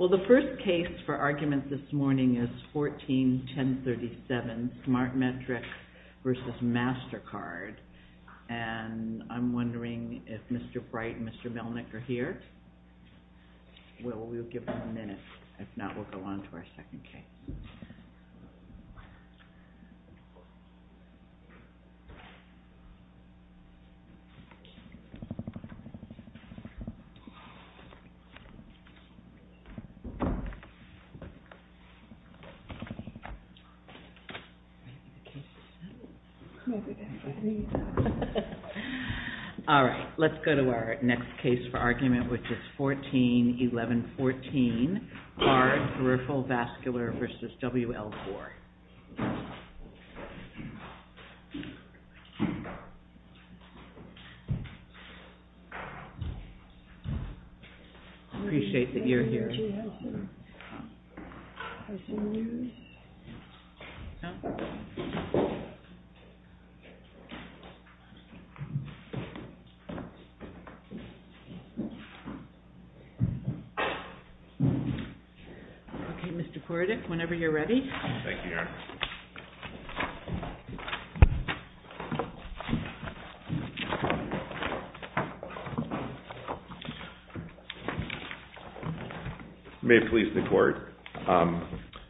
Well, the first case for arguments this morning is 14-1037, SmartMetrics v. MasterCard, and I'm wondering if Mr. Bright and Mr. Melnick are here? We'll give them a minute, if not, we'll go on to our second case. All right, let's go to our next case for argument, which is 14-1114, Peripheral Vascular v. W.L. Gore. I appreciate that you're here. Okay, Mr. Kordich, whenever you're ready. Thank you, Your Honor. May it please the Court,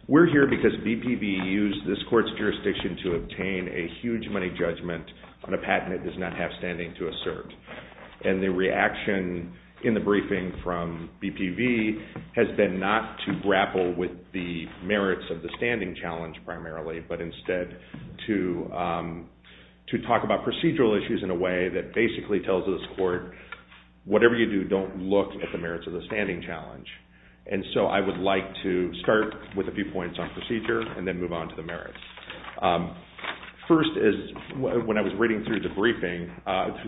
we're here because BPV used this Court's jurisdiction to obtain a huge money judgment on a patent it does not have standing to assert. And the reaction in the briefing from BPV has been not to grapple with the merits of the standing challenge primarily, but instead to talk about procedural issues in a way that basically tells this Court, whatever you do, don't look at the merits of the standing challenge. And so I would like to start with a few points on procedure and then move on to the merits. First is, when I was reading through the briefing,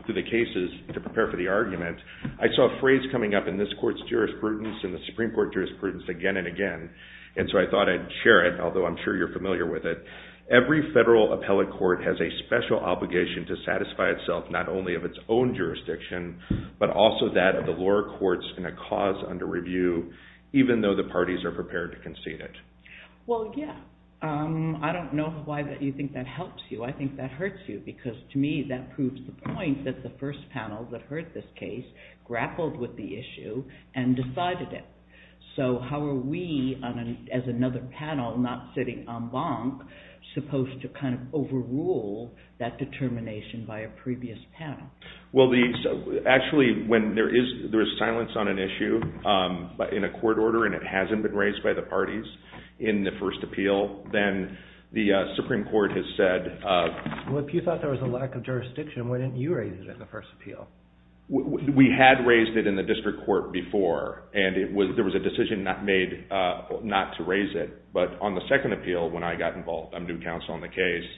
through the cases to prepare for the argument, I saw a phrase coming up in this Court's jurisprudence and the Supreme Court's jurisprudence again and again. And so I thought I'd share it, although I'm sure you're familiar with it. Every federal appellate court has a special obligation to satisfy itself not only of its own jurisdiction, but also that of the lower courts in a cause under review, even though the parties are prepared to concede it. Well, yeah. I don't know why you think that helps you. I think that hurts you, because to me that proves the point that the first panel that heard this case grappled with the issue and decided it. So how are we, as another panel not sitting en banc, supposed to kind of overrule that determination by a previous panel? Well, actually, when there is silence on an issue in a court order and it hasn't been raised by the parties in the first appeal, then the Supreme Court has said... Well, if you thought there was a lack of jurisdiction, why didn't you raise it in the first appeal? We had raised it in the district court before, and there was a decision made not to raise it. But on the second appeal, when I got involved, I'm new counsel on the case,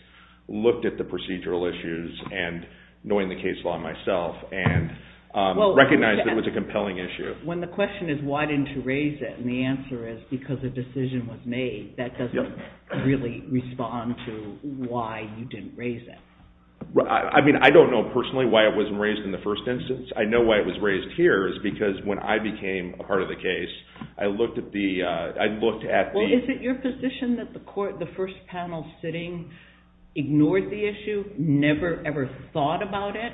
looked at the procedural issues, knowing the case law myself, and recognized it was a compelling issue. When the question is why didn't you raise it, and the answer is because a decision was made, that doesn't really respond to why you didn't raise it. I mean, I don't know personally why it wasn't raised in the first instance. I know why it was raised here is because when I became a part of the case, I looked at the... Well, is it your position that the first panel sitting ignored the issue, never ever thought about it,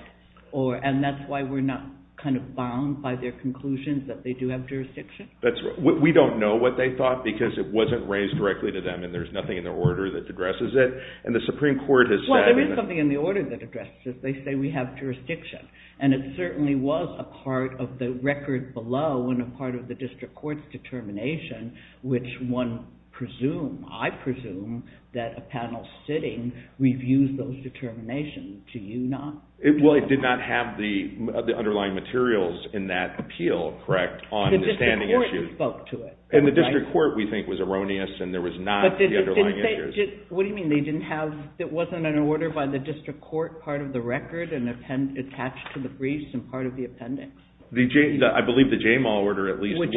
and that's why we're not kind of bound by their conclusions that they do have jurisdiction? That's right. We don't know what they thought because it wasn't raised directly to them, and there's nothing in the order that addresses it, and the Supreme Court has said... Well, there is something in the order that addresses it. They say we have jurisdiction, and it certainly was a part of the record below and a part of the district court's determination, which one presumes, I presume, that a panel sitting reviews those determinations. Do you not? Well, it did not have the underlying materials in that appeal, correct, on the standing issue. The district court spoke to it. And the district court, we think, was erroneous, and there was not the underlying issues. What do you mean they didn't have... It wasn't an order by the district court part of the record and attached to the briefs and part of the appendix? I believe the JMAL order at least was. Which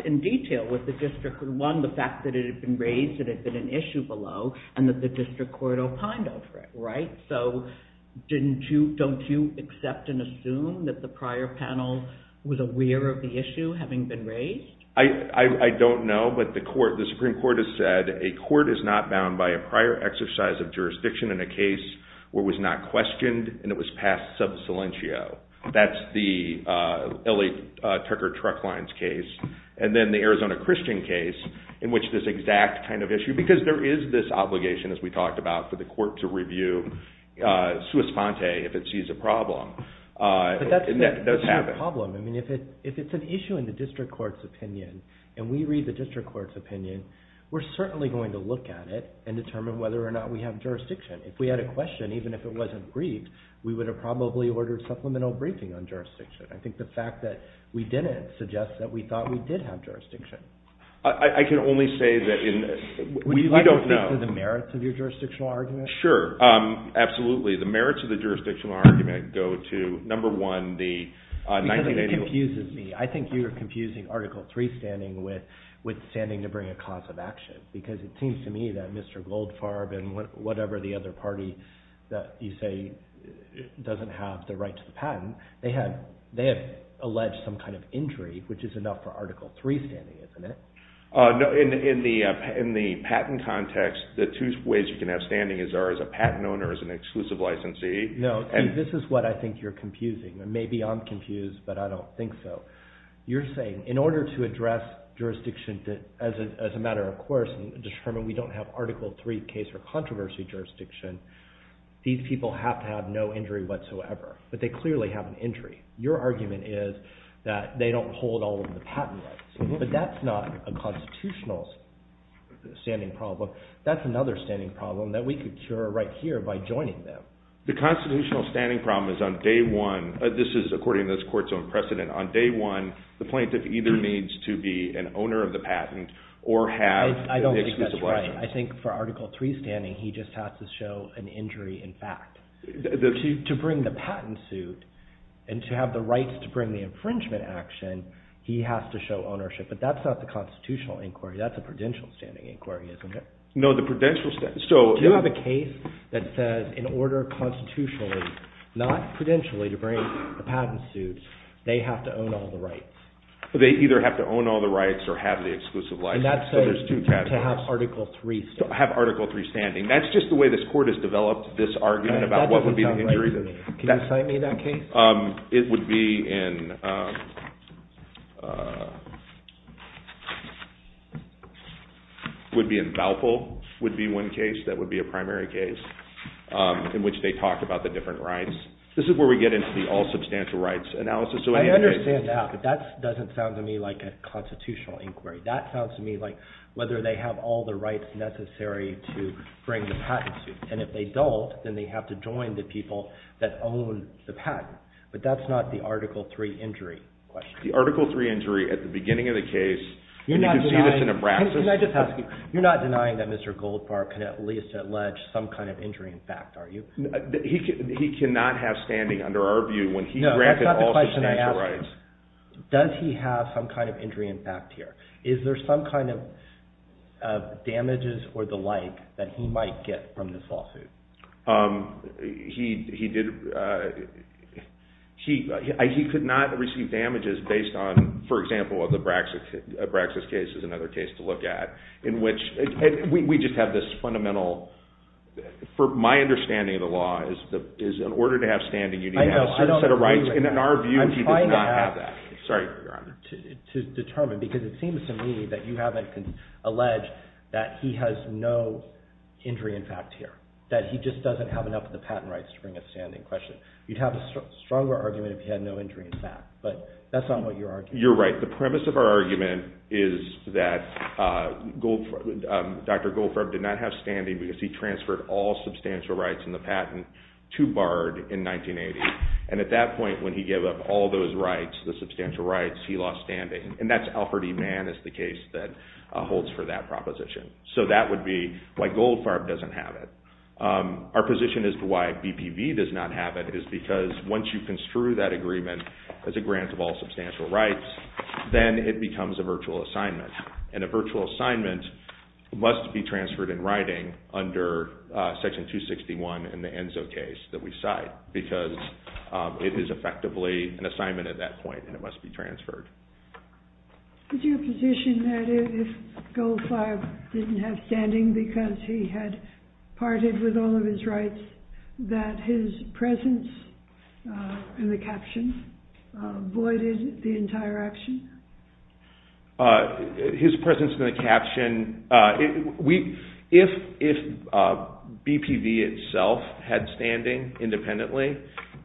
dealt in detail with the district court, one, the fact that it had been raised that it had been an issue below and that the district court opined over it, right? So don't you accept and assume that the prior panel was aware of the issue having been raised? I don't know, but the Supreme Court has said, a court is not bound by a prior exercise of jurisdiction in a case where it was not questioned and it was passed sub silentio. That's the L.A. Tucker truck lines case. And then the Arizona Christian case, in which this exact kind of issue, because there is this obligation, as we talked about, for the court to review sua sponte if it sees a problem. But that's not a problem. I mean, if it's an issue in the district court's opinion, and we read the district court's opinion, we're certainly going to look at it and determine whether or not we have jurisdiction. If we had a question, even if it wasn't briefed, we would have probably ordered supplemental briefing on jurisdiction. I think the fact that we didn't suggests that we thought we did have jurisdiction. I can only say that we don't know. Would you like to speak to the merits of your jurisdictional argument? Sure, absolutely. The merits of the jurisdictional argument go to, number one, the 1980s. Because it confuses me. I think you are confusing Article III standing with standing to bring a cause of action, because it seems to me that Mr. Goldfarb and whatever the other party that you say doesn't have the right to the patent, they have alleged some kind of injury, which is enough for Article III standing, isn't it? In the patent context, the two ways you can have standing are as a patent owner, as an exclusive licensee. No, this is what I think you're confusing. Maybe I'm confused, but I don't think so. You're saying in order to address jurisdiction as a matter of course and determine we don't have Article III case or controversy jurisdiction, these people have to have no injury whatsoever, but they clearly have an injury. Your argument is that they don't hold all of the patent rights, but that's not a constitutional standing problem. That's another standing problem that we could cure right here by joining them. The constitutional standing problem is on day one. This is according to this court's own precedent. On day one, the plaintiff either needs to be an owner of the patent or have an exclusive license. I don't think that's right. I think for Article III standing, he just has to show an injury in fact. To bring the patent suit and to have the rights to bring the infringement action, he has to show ownership, but that's not the constitutional inquiry. That's a prudential standing inquiry, isn't it? No, the prudential standing. Do you have a case that says in order constitutionally, not prudentially to bring the patent suits, they have to own all the rights? They either have to own all the rights or have the exclusive license. So there's two categories. To have Article III standing. To have Article III standing. That's just the way this court has developed this argument about what would be the injury. That doesn't sound right to me. Can you cite me that case? It would be in Balfour would be one case. That would be a primary case in which they talk about the different rights. This is where we get into the all substantial rights analysis. I understand that, but that doesn't sound to me like a constitutional inquiry. That sounds to me like whether they have all the rights necessary to bring the patent suit, and if they don't, then they have to join the people that own the patent. But that's not the Article III injury question. The Article III injury at the beginning of the case. You're not denying that Mr. Goldfarb can at least allege some kind of injury in fact, are you? He cannot have standing under our view when he granted all substantial rights. Does he have some kind of injury in fact here? Is there some kind of damages or the like that he might get from this lawsuit? He could not receive damages based on, for example, the Braxis case is another case to look at. We just have this fundamental, for my understanding of the law, is in order to have standing you need to have a set of rights. In our view, he does not have that. Sorry, Your Honor. To determine, because it seems to me that you haven't alleged that he has no injury in fact here, that he just doesn't have enough of the patent rights to bring a standing question. You'd have a stronger argument if he had no injury in fact, but that's not what you're arguing. You're right. The premise of our argument is that Dr. Goldfarb did not have standing because he transferred all substantial rights in the patent to Bard in 1980. And at that point when he gave up all those rights, the substantial rights, he lost standing. And that's Alfred E. Mann is the case that holds for that proposition. So that would be why Goldfarb doesn't have it. Our position as to why BPV does not have it is because once you construe that agreement as a grant of all substantial rights, then it becomes a virtual assignment. And a virtual assignment must be transferred in writing under Section 261 in the Enzo case that we cite because it is effectively an assignment at that point and it must be transferred. Is your position that if Goldfarb didn't have standing because he had parted with all of his rights, that his presence in the caption voided the entire action? His presence in the caption, if BPV itself had standing independently,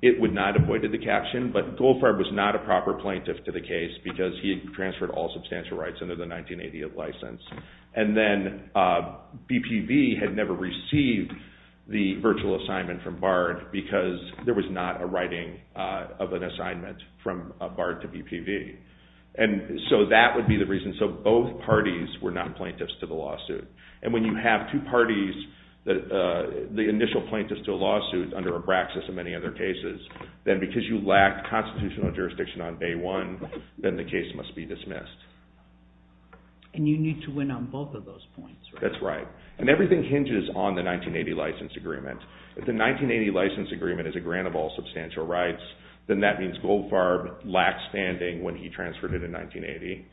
it would not have voided the caption. But Goldfarb was not a proper plaintiff to the case because he transferred all substantial rights under the 1980 license. And then BPV had never received the virtual assignment from Bard because there was not a writing of an assignment from Bard to BPV. And so that would be the reason. So both parties were not plaintiffs to the lawsuit. And when you have two parties, the initial plaintiffs to a lawsuit under Abraxas and many other cases, then because you lack constitutional jurisdiction on day one, then the case must be dismissed. And you need to win on both of those points. That's right. And everything hinges on the 1980 license agreement. If the 1980 license agreement is a grant of all substantial rights, then that means Goldfarb lacked standing when he transferred it in 1980.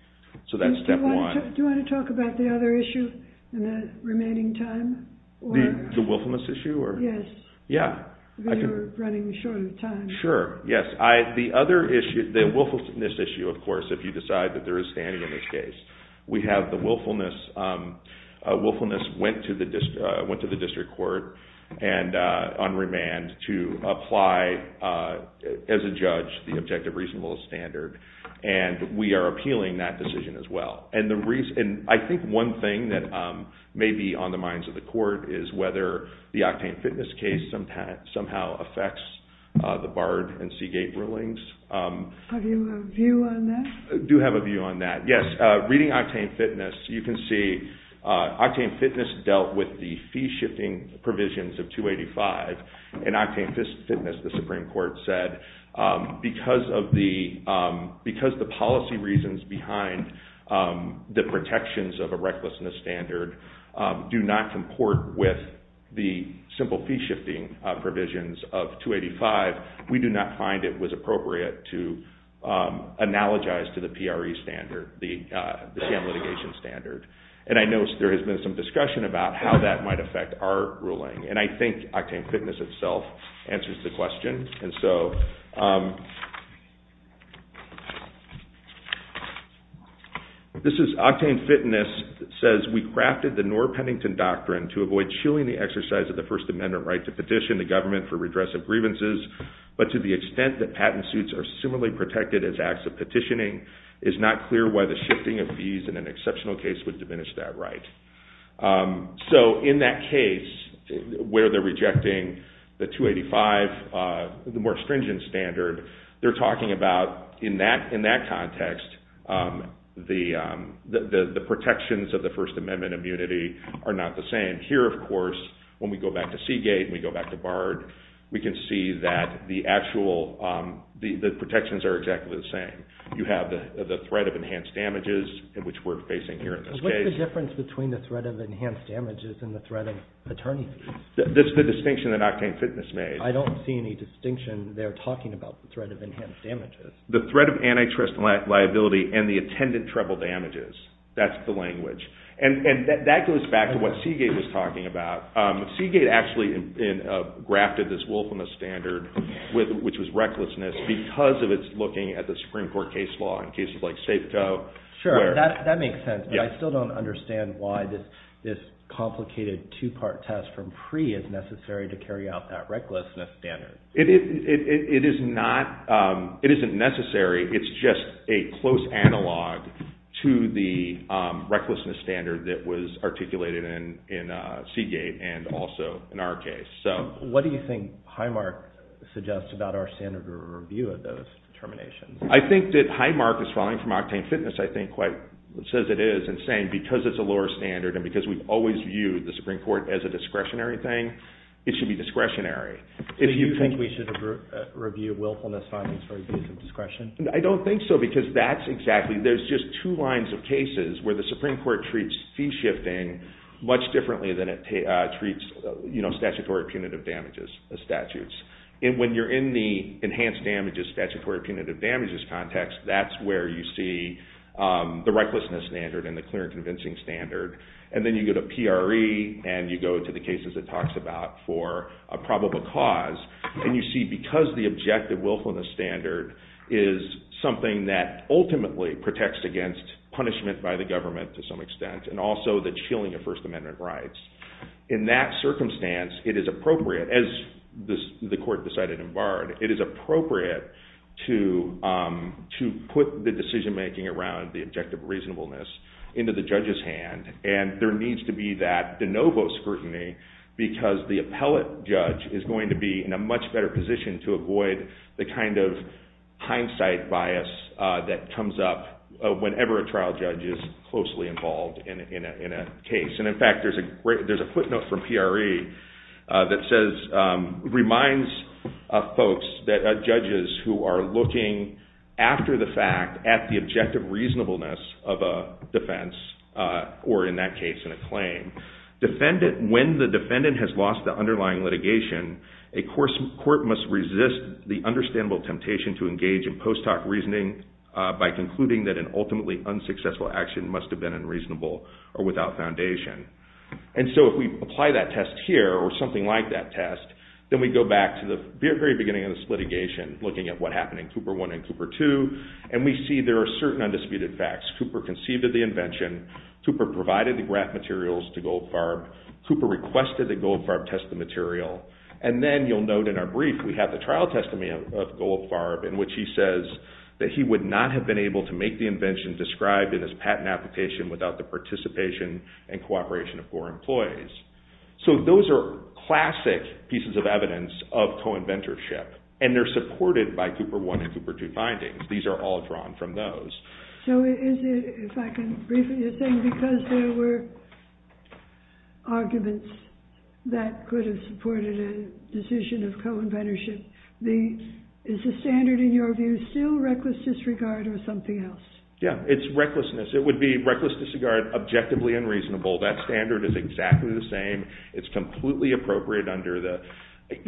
So that's step one. Do you want to talk about the other issue in the remaining time? The willfulness issue? Yes. Yeah. Because you're running short of time. Sure. Yes. The willfulness issue, of course, if you decide that there is standing in this case. We have the willfulness. Willfulness went to the district court on remand to apply as a judge the objective reasonable standard. And we are appealing that decision as well. And I think one thing that may be on the minds of the court is whether the Octane Fitness case somehow affects the Bard and Seagate rulings. Do you have a view on that? I do have a view on that. Yes. Reading Octane Fitness, you can see Octane Fitness dealt with the fee-shifting provisions of 285. And Octane Fitness, the Supreme Court said, because the policy reasons behind the protections of a recklessness standard do not comport with the simple fee-shifting provisions of 285, we do not find it was appropriate to analogize to the PRE standard, the stand litigation standard. And I know there has been some discussion about how that might affect our ruling. And I think Octane Fitness itself answers the question. And so this is Octane Fitness. It says, we crafted the Knorr-Pennington Doctrine to avoid shielding the exercise of the First Amendment right to petition the government for redress of grievances, but to the extent that patent suits are similarly protected as acts of petitioning, it is not clear why the shifting of fees in an exceptional case would diminish that right. So in that case where they're rejecting the 285, the more stringent standard, they're talking about in that context the protections of the First Amendment immunity are not the same. And here, of course, when we go back to Seagate and we go back to Bard, we can see that the protections are exactly the same. You have the threat of enhanced damages, which we're facing here in this case. What's the difference between the threat of enhanced damages and the threat of attorney fees? That's the distinction that Octane Fitness made. I don't see any distinction there talking about the threat of enhanced damages. The threat of antitrust liability and the attendant treble damages. That's the language. And that goes back to what Seagate was talking about. Seagate actually grafted this wolf on the standard, which was recklessness, because of its looking at the Supreme Court case law in cases like Safeco. Sure, that makes sense. But I still don't understand why this complicated two-part test from PRE is necessary to carry out that recklessness standard. It isn't necessary. It's just a close analog to the recklessness standard that was articulated in Seagate and also in our case. What do you think Highmark suggests about our standard review of those determinations? I think that Highmark is falling from Octane Fitness, I think, quite as it is, in saying because it's a lower standard and because we've always viewed the Supreme Court as a discretionary thing, it should be discretionary. Do you think we should review willfulness findings for abuse of discretion? I don't think so, because there's just two lines of cases where the Supreme Court treats fee shifting much differently than it treats statutory punitive damages statutes. When you're in the enhanced damages, statutory punitive damages context, that's where you see the recklessness standard and the clear and convincing standard. And then you go to PRE and you go to the cases it talks about for a probable cause, and you see because the objective willfulness standard is something that ultimately protects against punishment by the government to some extent and also the chilling of First Amendment rights. In that circumstance, it is appropriate, as the court decided in Bard, it is appropriate to put the decision-making around the objective reasonableness into the judge's hand, and there needs to be that de novo scrutiny because the appellate judge is going to be in a much better position to avoid the kind of hindsight bias that comes up whenever a trial judge is closely involved in a case. And in fact, there's a footnote from PRE that says, reminds folks that judges who are looking after the fact at the objective reasonableness of a defense or in that case in a claim. When the defendant has lost the underlying litigation, a court must resist the understandable temptation to engage in post hoc reasoning by concluding that an ultimately unsuccessful action must have been unreasonable or without foundation. And so if we apply that test here or something like that test, then we go back to the very beginning of this litigation looking at what happened in Cooper I and Cooper II, and we see there are certain undisputed facts. Cooper conceived of the invention. Cooper provided the graph materials to Goldfarb. Cooper requested that Goldfarb test the material. And then you'll note in our brief we have the trial testimony of Goldfarb in which he says that he would not have been able to make the invention described in his patent application without the participation and cooperation of Gore employees. So those are classic pieces of evidence of co-inventorship, and they're supported by Cooper I and Cooper II findings. These are all drawn from those. So is it, if I can briefly, you're saying because there were arguments that could have supported a decision of co-inventorship, is the standard in your view still reckless disregard or something else? Yeah, it's recklessness. It would be reckless disregard objectively unreasonable. That standard is exactly the same. It's completely appropriate under the,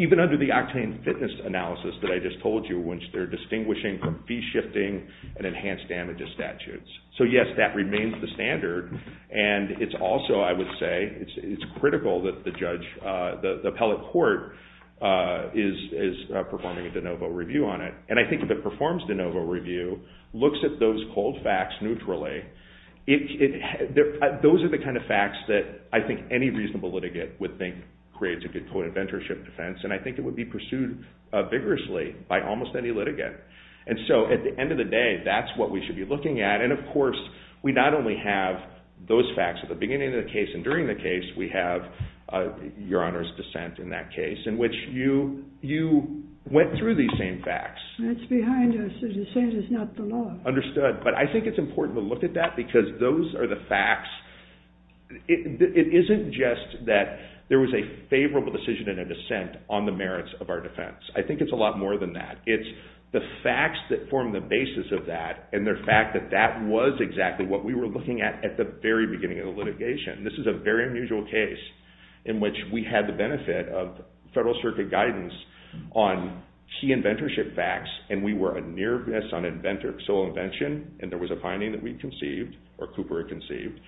even under the octane fitness analysis that I just told you, which they're distinguishing from fee-shifting and enhanced damages statutes. So, yes, that remains the standard. And it's also, I would say, it's critical that the judge, the appellate court is performing a de novo review on it. And I think if it performs de novo review, looks at those cold facts neutrally, those are the kind of facts that I think any reasonable litigant would think creates a good co-inventorship defense. And I think it would be pursued vigorously by almost any litigant. And so at the end of the day, that's what we should be looking at. And, of course, we not only have those facts at the beginning of the case and during the case, we have Your Honor's dissent in that case, in which you went through these same facts. That's behind us. The dissent is not the law. Understood. But I think it's important to look at that because those are the facts. It isn't just that there was a favorable decision and a dissent on the merits of our defense. I think it's a lot more than that. It's the facts that form the basis of that and the fact that that was exactly what we were looking at at the very beginning of the litigation. This is a very unusual case in which we had the benefit of federal circuit guidance on key inventorship facts, and we were anear this on sole invention, and there was a finding that we'd conceived, or Cooper had conceived.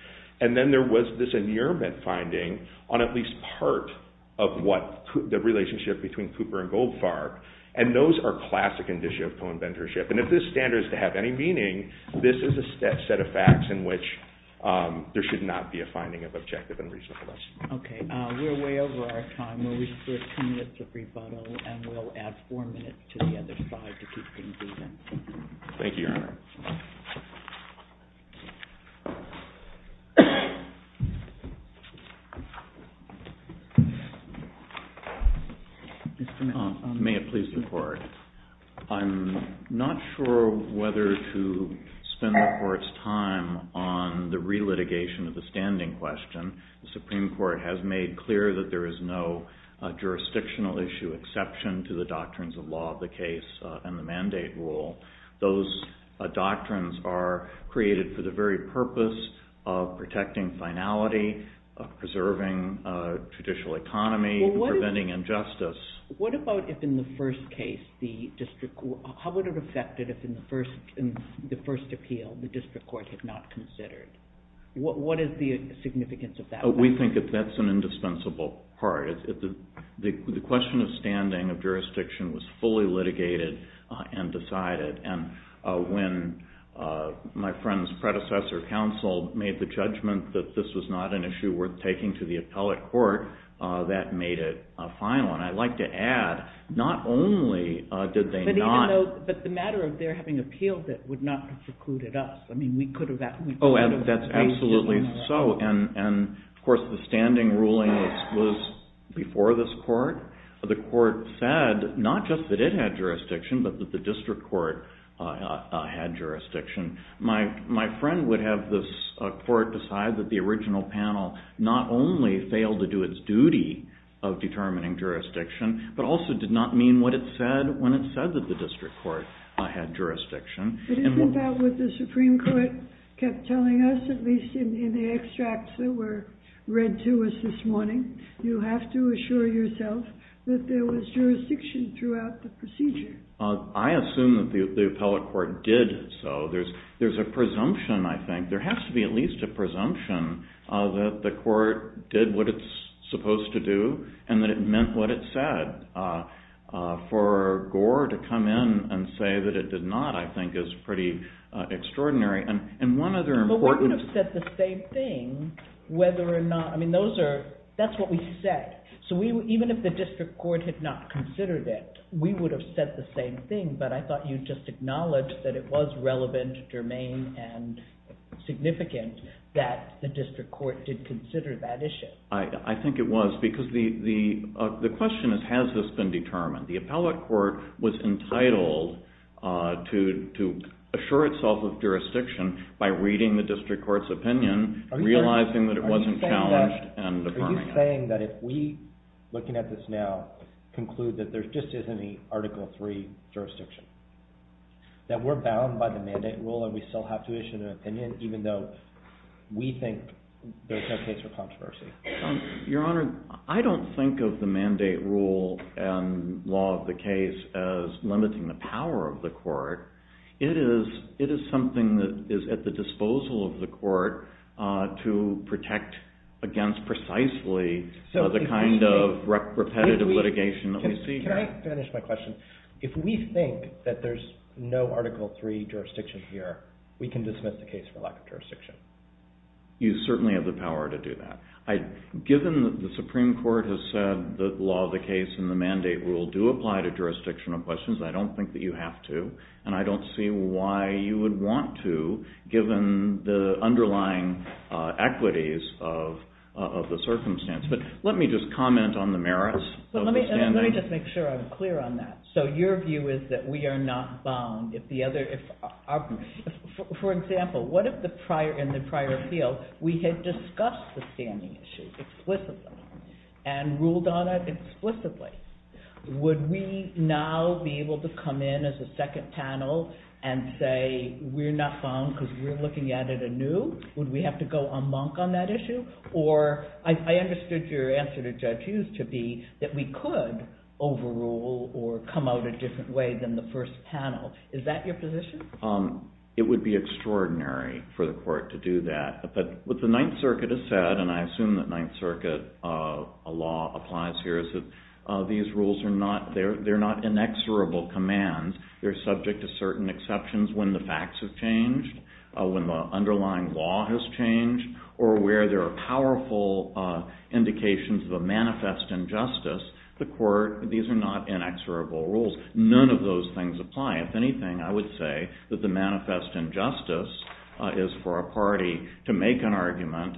And then there was this anearment finding on at least part of the relationship between Cooper and Goldfarb. And those are classic indicia of co-inventorship. And if this standard is to have any meaning, this is a set of facts in which there should not be a finding of objective and reasonableness. Okay. We're way over our time. We're two minutes of rebuttal, and we'll add four minutes to the other side to keep things even. Thank you, Your Honor. May it please the Court. I'm not sure whether to spend the Court's time on the re-litigation of the standing question. The Supreme Court has made clear that there is no jurisdictional issue exception to the doctrines of law of the case and the mandate rule. Those doctrines are created for the very purpose of protecting finality, of preserving judicial economy, preventing injustice. What about if in the first case the district... How would it affect it if in the first appeal the district court had not considered? What is the significance of that? We think that that's an indispensable part. The question of standing, of jurisdiction, was fully litigated and decided. And when my friend's predecessor, counsel, made the judgment that this was not an issue worth taking to the appellate court, that made it final. And I'd like to add, not only did they not... But the matter of their having appealed it would not have precluded us. I mean, we could have... Oh, that's absolutely so. And, of course, the standing ruling was before this court. The court said not just that it had jurisdiction, but that the district court had jurisdiction. My friend would have this court decide that the original panel not only failed to do its duty of determining jurisdiction, but also did not mean what it said when it said that the district court had jurisdiction. But isn't that what the Supreme Court kept telling us, at least in the extracts that were read to us this morning? You have to assure yourself that there was jurisdiction throughout the procedure. I assume that the appellate court did so. There's a presumption, I think. There has to be at least a presumption that the court did what it's supposed to do and that it meant what it said. For Gore to come in and say that it did not, I think, is pretty extraordinary. And one other important... But we would have said the same thing whether or not... I mean, that's what we said. So even if the district court had not considered it, we would have said the same thing, but I thought you just acknowledged that it was relevant, germane, and significant that the district court did consider that issue. I think it was, because the question is, has this been determined? The appellate court was entitled to assure itself of jurisdiction by reading the district court's opinion, realizing that it wasn't challenged, and affirming it. Are you saying that if we, looking at this now, conclude that there just isn't any Article III jurisdiction, that we're bound by the mandate rule and we still have to issue an opinion even though we think there's no case for controversy? Your Honor, I don't think of the mandate rule and law of the case as limiting the power of the court. It is something that is at the disposal of the court to protect against precisely the kind of repetitive litigation that we see here. Can I finish my question? If we think that there's no Article III jurisdiction here, we can dismiss the case for lack of jurisdiction? You certainly have the power to do that. Given that the Supreme Court has said that the law of the case and the mandate rule do apply to jurisdictional questions, I don't think that you have to, and I don't see why you would want to, given the underlying equities of the circumstance. But let me just comment on the merits of the standing. Let me just make sure I'm clear on that. So your view is that we are not bound if the other... For example, what if in the prior appeal we had discussed the standing issue explicitly and ruled on it explicitly? Would we now be able to come in as a second panel and say we're not bound because we're looking at it anew? Would we have to go amonk on that issue? Or I understood your answer to Judge Hughes to be that we could overrule or come out a different way than the first panel. Is that your position? It would be extraordinary for the court to do that. But what the Ninth Circuit has said, and I assume that Ninth Circuit law applies here, is that these rules are not inexorable commands. They're subject to certain exceptions when the facts have changed, when the underlying law has changed, or where there are powerful indications of a manifest injustice. These are not inexorable rules. None of those things apply. If anything, I would say that the manifest injustice is for a party to make an argument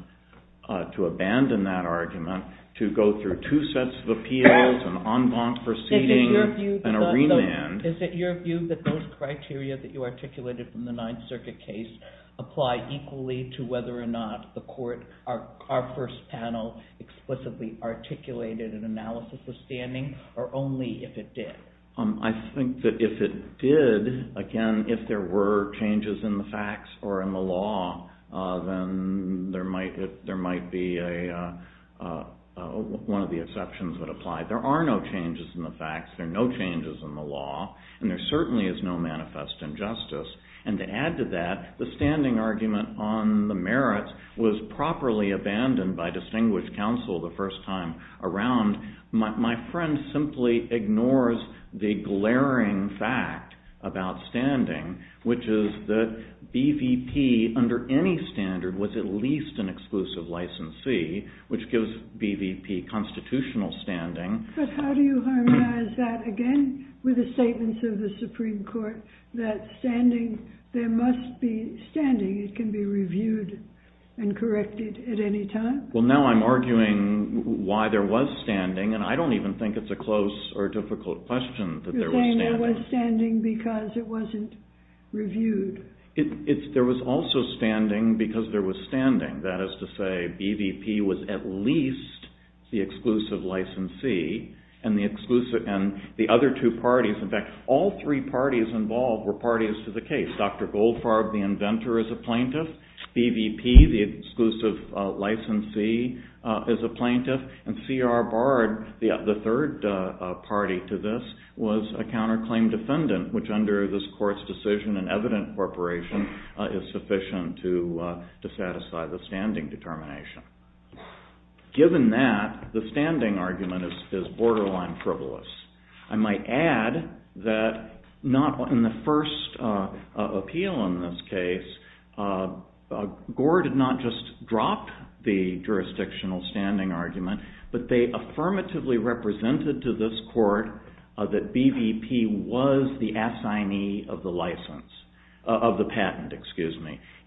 to abandon that argument, to go through two sets of appeals, an en banc proceeding, and a remand. Is it your view that those criteria that you articulated in the Ninth Circuit case apply equally to whether or not the court, our first panel, explicitly articulated an analysis of standing, or only if it did? I think that if it did, again, if there were changes in the facts or in the law, then there might be one of the exceptions that apply. There are no changes in the facts, there are no changes in the law, and there certainly is no manifest injustice. And to add to that, the standing argument on the merits was properly abandoned by distinguished counsel the first time around. My friend simply ignores the glaring fact about standing, which is that BVP, under any standard, was at least an exclusive licensee, which gives BVP constitutional standing. But how do you harmonize that, again, with the statements of the Supreme Court that standing, there must be standing, it can be reviewed and corrected at any time? Well, now I'm arguing why there was standing, that there was standing. There was standing because it wasn't reviewed. There was also standing because there was standing. That is to say, BVP was at least the exclusive licensee, and the other two parties, in fact, all three parties involved were parties to the case. Dr. Goldfarb, the inventor, is a plaintiff, BVP, the exclusive licensee, is a plaintiff, and C.R. Bard, the third party to this, was a counterclaim defendant, which, under this court's decision and evident corporation, is sufficient to satisfy the standing determination. Given that, the standing argument is borderline frivolous. I might add that not in the first appeal in this case, Gore did not just drop the jurisdictional standing argument, but they affirmatively represented to this court that BVP was the assignee of the patent.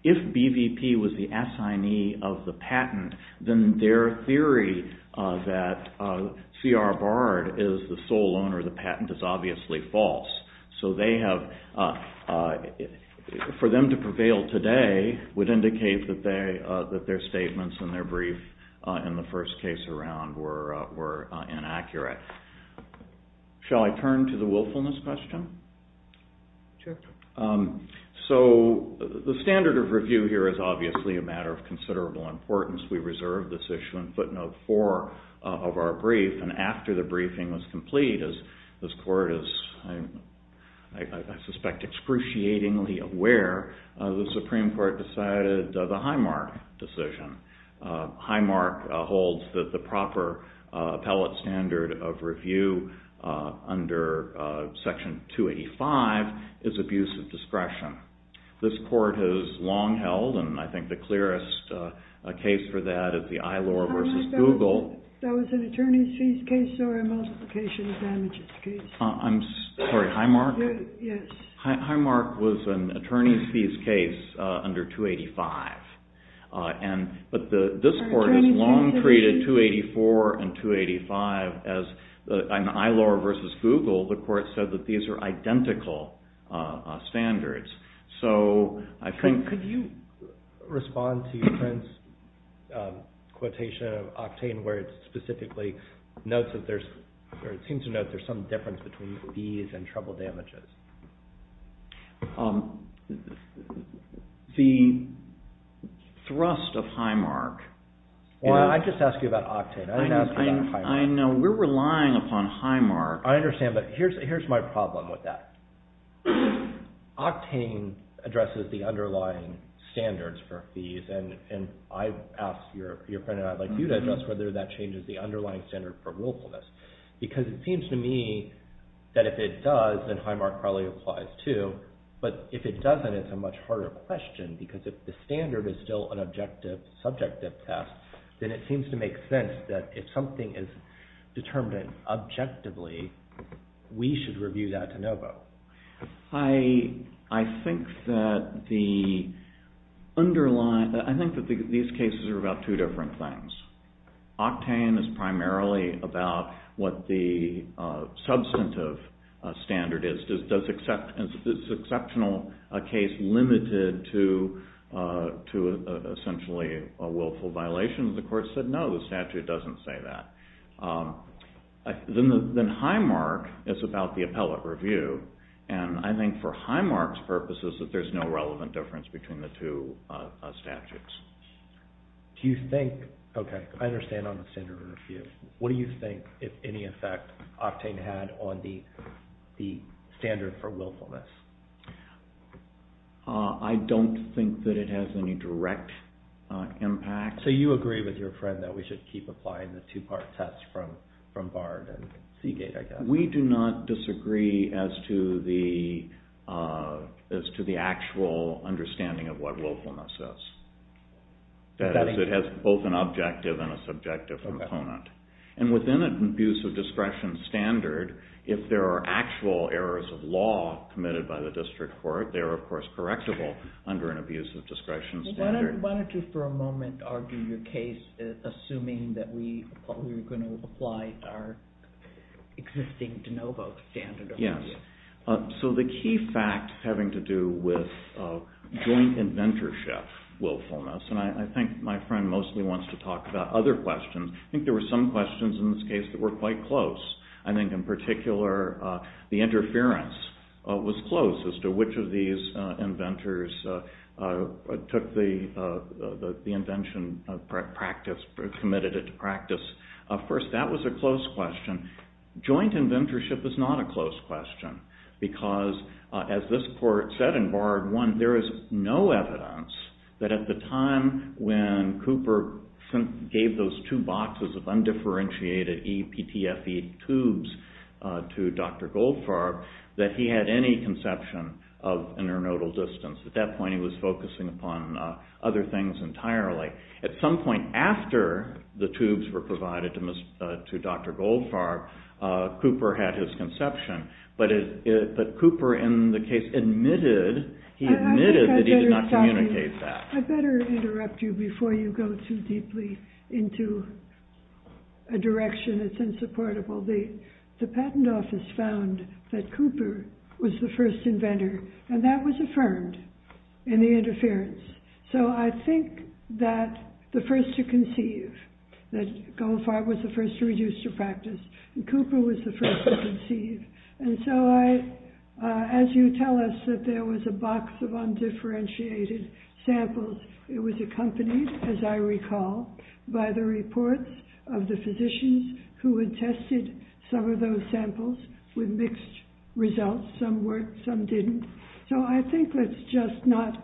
If BVP was the assignee of the patent, then their theory that C.R. Bard is the sole owner of the patent is obviously false. So for them to prevail today would indicate that their statements in their brief in the first case around were inaccurate. Shall I turn to the willfulness question? Sure. So the standard of review here is obviously a matter of considerable importance. We reserved this issue in footnote four of our brief, and after the briefing was complete, as this court is, I suspect, excruciatingly aware, the Supreme Court decided the Highmark decision. Highmark holds that the proper appellate standard of review under section 285 is abuse of discretion. This court has long held, and I think the clearest case for that is the Eilor versus Google. That was an attorney's fees case or a multiplication of damages case? I'm sorry, Highmark? Yes. Highmark was an attorney's fees case under 285. But this court has long treated 284 and 285 as an Eilor versus Google. The court said that these are identical standards. So I think... Could you respond to your friend's quotation of Octane where it specifically notes that there's, or it seems to note there's some difference between fees and trouble damages? The thrust of Highmark... Well, I just asked you about Octane. I didn't ask you about Highmark. I know. We're relying upon Highmark. I understand, but here's my problem with that. Octane addresses the underlying standards for fees, and I asked your friend, and I'd like you to address whether that changes the underlying standard for willfulness. Because it seems to me that if it does, then Highmark probably applies too. But if it doesn't, it's a much harder question because if the standard is still an objective, subjective test, then it seems to make sense that if something is determined objectively, we should review that de novo. I think that the underlying... I think that these cases are about two different things. Octane is primarily about what the substantive standard is. Is this exceptional case limited to essentially a willful violation? The court said no, the statute doesn't say that. Then Highmark is about the appellate review, and I think for Highmark's purposes that there's no relevant difference between the two statutes. Do you think... Okay, I understand on the standard of review. What do you think, if any effect, Octane had on the standard for willfulness? I don't think that it has any direct impact. So you agree with your friend that we should keep applying the two-part test from Bard and Seagate, I guess? We do not disagree as to the actual understanding of what willfulness is. That is, it has both an objective and a subjective component. And within an abuse-of-discretion standard, if there are actual errors of law committed by the district court, they are, of course, correctable under an abuse-of-discretion standard. Why don't you for a moment argue your case assuming that we're going to apply our existing de novo standard of review? Yes. So the key fact having to do with joint inventorship willfulness, and I think my friend mostly wants to talk about other questions. I think there were some questions in this case that were quite close. I think, in particular, the interference was close as to which of these inventors took the invention practice, committed it to practice. Of course, that was a close question. Joint inventorship is not a close question because, as this court said in Bard 1, there is no evidence that at the time when Cooper gave those two boxes of undifferentiated EPTFE tubes to Dr. Goldfarb, that he had any conception of internodal distance. At that point, he was focusing upon other things entirely. At some point after the tubes were provided to Dr. Goldfarb, Cooper had his conception. But Cooper, in the case, admitted that he did not communicate that. I'd better interrupt you before you go too deeply into a direction that's insupportable. The patent office found that Cooper was the first inventor, and that was affirmed in the interference. So I think that the first to conceive, that Goldfarb was the first to reduce to practice, and Cooper was the first to conceive. As you tell us, that there was a box of undifferentiated samples. It was accompanied, as I recall, by the reports of the physicians who had tested some of those samples with mixed results. Some worked, some didn't. So I think let's just not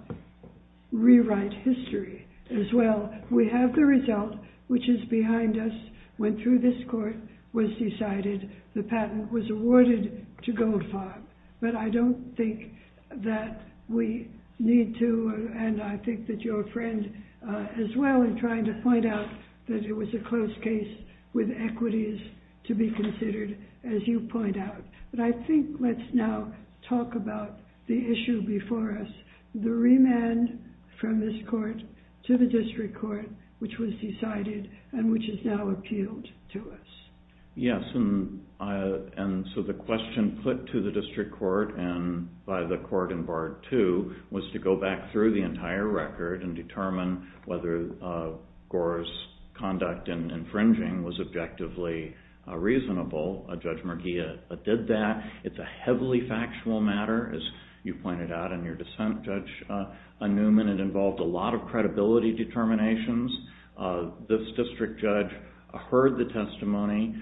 rewrite history as well. We have the result, which is behind us. When through this court was decided the patent was awarded to Goldfarb. But I don't think that we need to, and I think that your friend as well, in trying to point out that it was a close case with equities to be considered, as you point out. But I think let's now talk about the issue before us, the remand from this court to the district court, which was decided and which is now appealed to us. Yes, and so the question put to the district court and by the court in part two was to go back through the entire record and determine whether Gore's conduct in infringing was objectively reasonable. Judge Murguia did that. It's a heavily factual matter, as you pointed out in your dissent, Judge Newman. It involved a lot of credibility determinations. This district judge heard the testimony.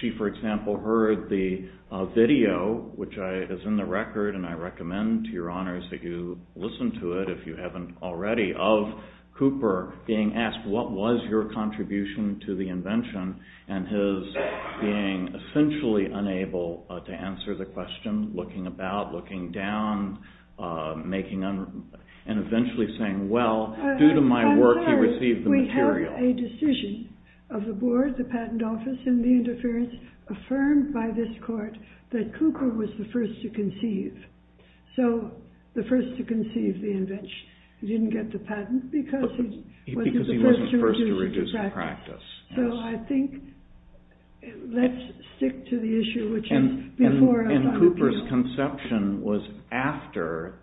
She, for example, heard the video, which is in the record, and I recommend to your honors that you listen to it if you haven't already, of Cooper being asked, what was your contribution to the invention? And his being essentially unable to answer the question, looking about, looking down, and eventually saying, well, due to my work, he received the material. We had a decision of the board, the patent office, and the interference affirmed by this court that Cooper was the first to conceive. So the first to conceive the invention. He didn't get the patent because he wasn't the first to reduce the practice. So I think let's stick to the issue, which is before us. And Cooper's conception was after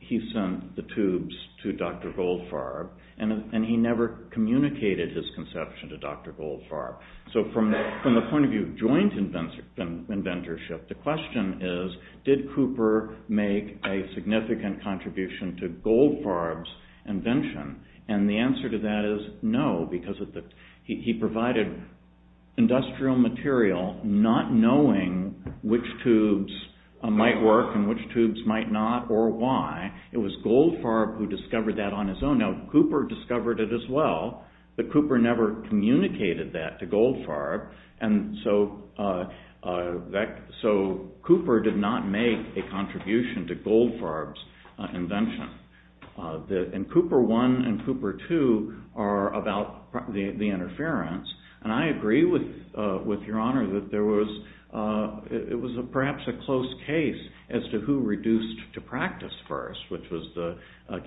he sent the tubes to Dr. Goldfarb, and he never communicated his conception to Dr. Goldfarb. So from the point of view of joint inventorship, the question is, did Cooper make a significant contribution to Goldfarb's invention? And the answer to that is no, because he provided industrial material not knowing which tubes might work and which tubes might not or why. It was Goldfarb who discovered that on his own. Now, Cooper discovered it as well, but Cooper never communicated that to Goldfarb. And so Cooper did not make a contribution to Goldfarb's invention. And Cooper I and Cooper II are about the interference. And I agree with Your Honor that it was perhaps a close case as to who reduced to practice first, which was the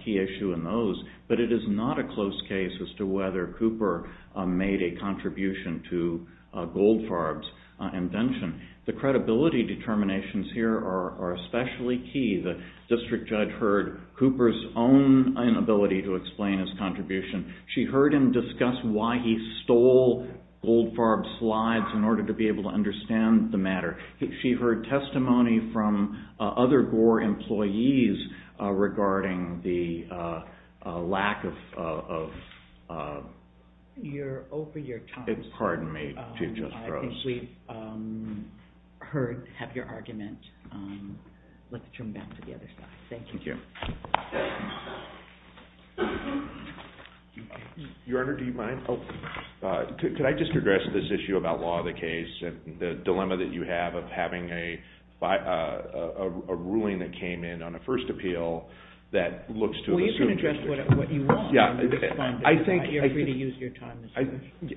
key issue in those. But it is not a close case as to whether Cooper made a contribution to Goldfarb's invention. The credibility determinations here are especially key. The district judge heard Cooper's own inability to explain his contribution. She heard him discuss why he stole Goldfarb's slides in order to be able to understand the matter. She heard testimony from other Gore employees regarding the lack of... You're over your time. Pardon me, Chief Justice Gross. I think we've heard, have your argument. Let's turn back to the other side. Thank you. Your Honor, do you mind? Could I just address this issue about law of the case and the dilemma that you have of having a ruling that came in on a first appeal that looks to... Well, you can address what you want. You're free to use your time.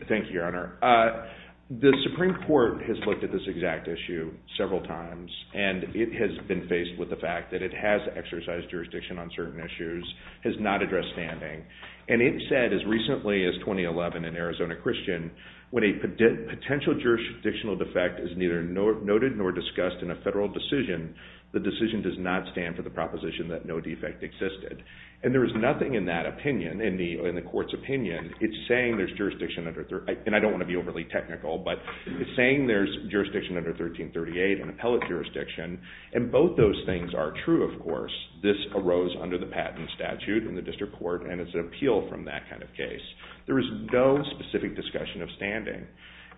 Thank you, Your Honor. The Supreme Court has looked at this exact issue several times. And it has been faced with the fact that it has exercised jurisdiction on certain issues, has not addressed standing. And it said as recently as 2011 in Arizona Christian when a potential jurisdictional defect is neither noted nor discussed in a federal decision, the decision does not stand for the proposition that no defect existed. And there is nothing in that opinion, in the court's opinion, it's saying there's jurisdiction under... And I don't want to be overly technical, but it's saying there's jurisdiction under 1338, an appellate jurisdiction, and both those things are true, of course. This arose under the patent statute in the district court, and it's an appeal from that kind of case. There is no specific discussion of standing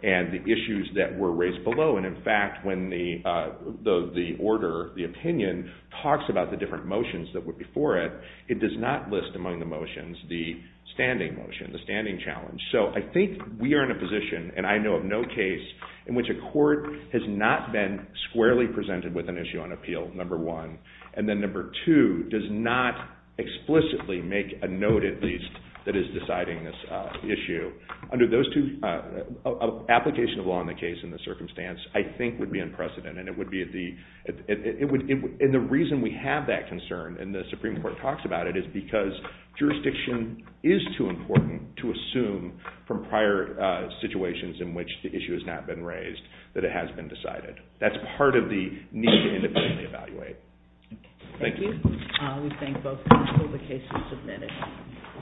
and the issues that were raised below. And in fact, when the order, the opinion, talks about the different motions that were before it, it does not list among the motions the standing motion, the standing challenge. So I think we are in a position, and I know of no case, in which a court has not been squarely presented with an issue on appeal, number one, and then number two, does not explicitly make a note, at least, that is deciding this issue. Under those two, application of law in the case and the circumstance, I think, would be unprecedented, and it would be at the... And the reason we have that concern, and the Supreme Court talks about it, is because jurisdiction is too important to assume from prior situations in which the issue has not been raised, that it has been decided. That's part of the need to independently evaluate. Thank you. We thank both parties for the case you submitted.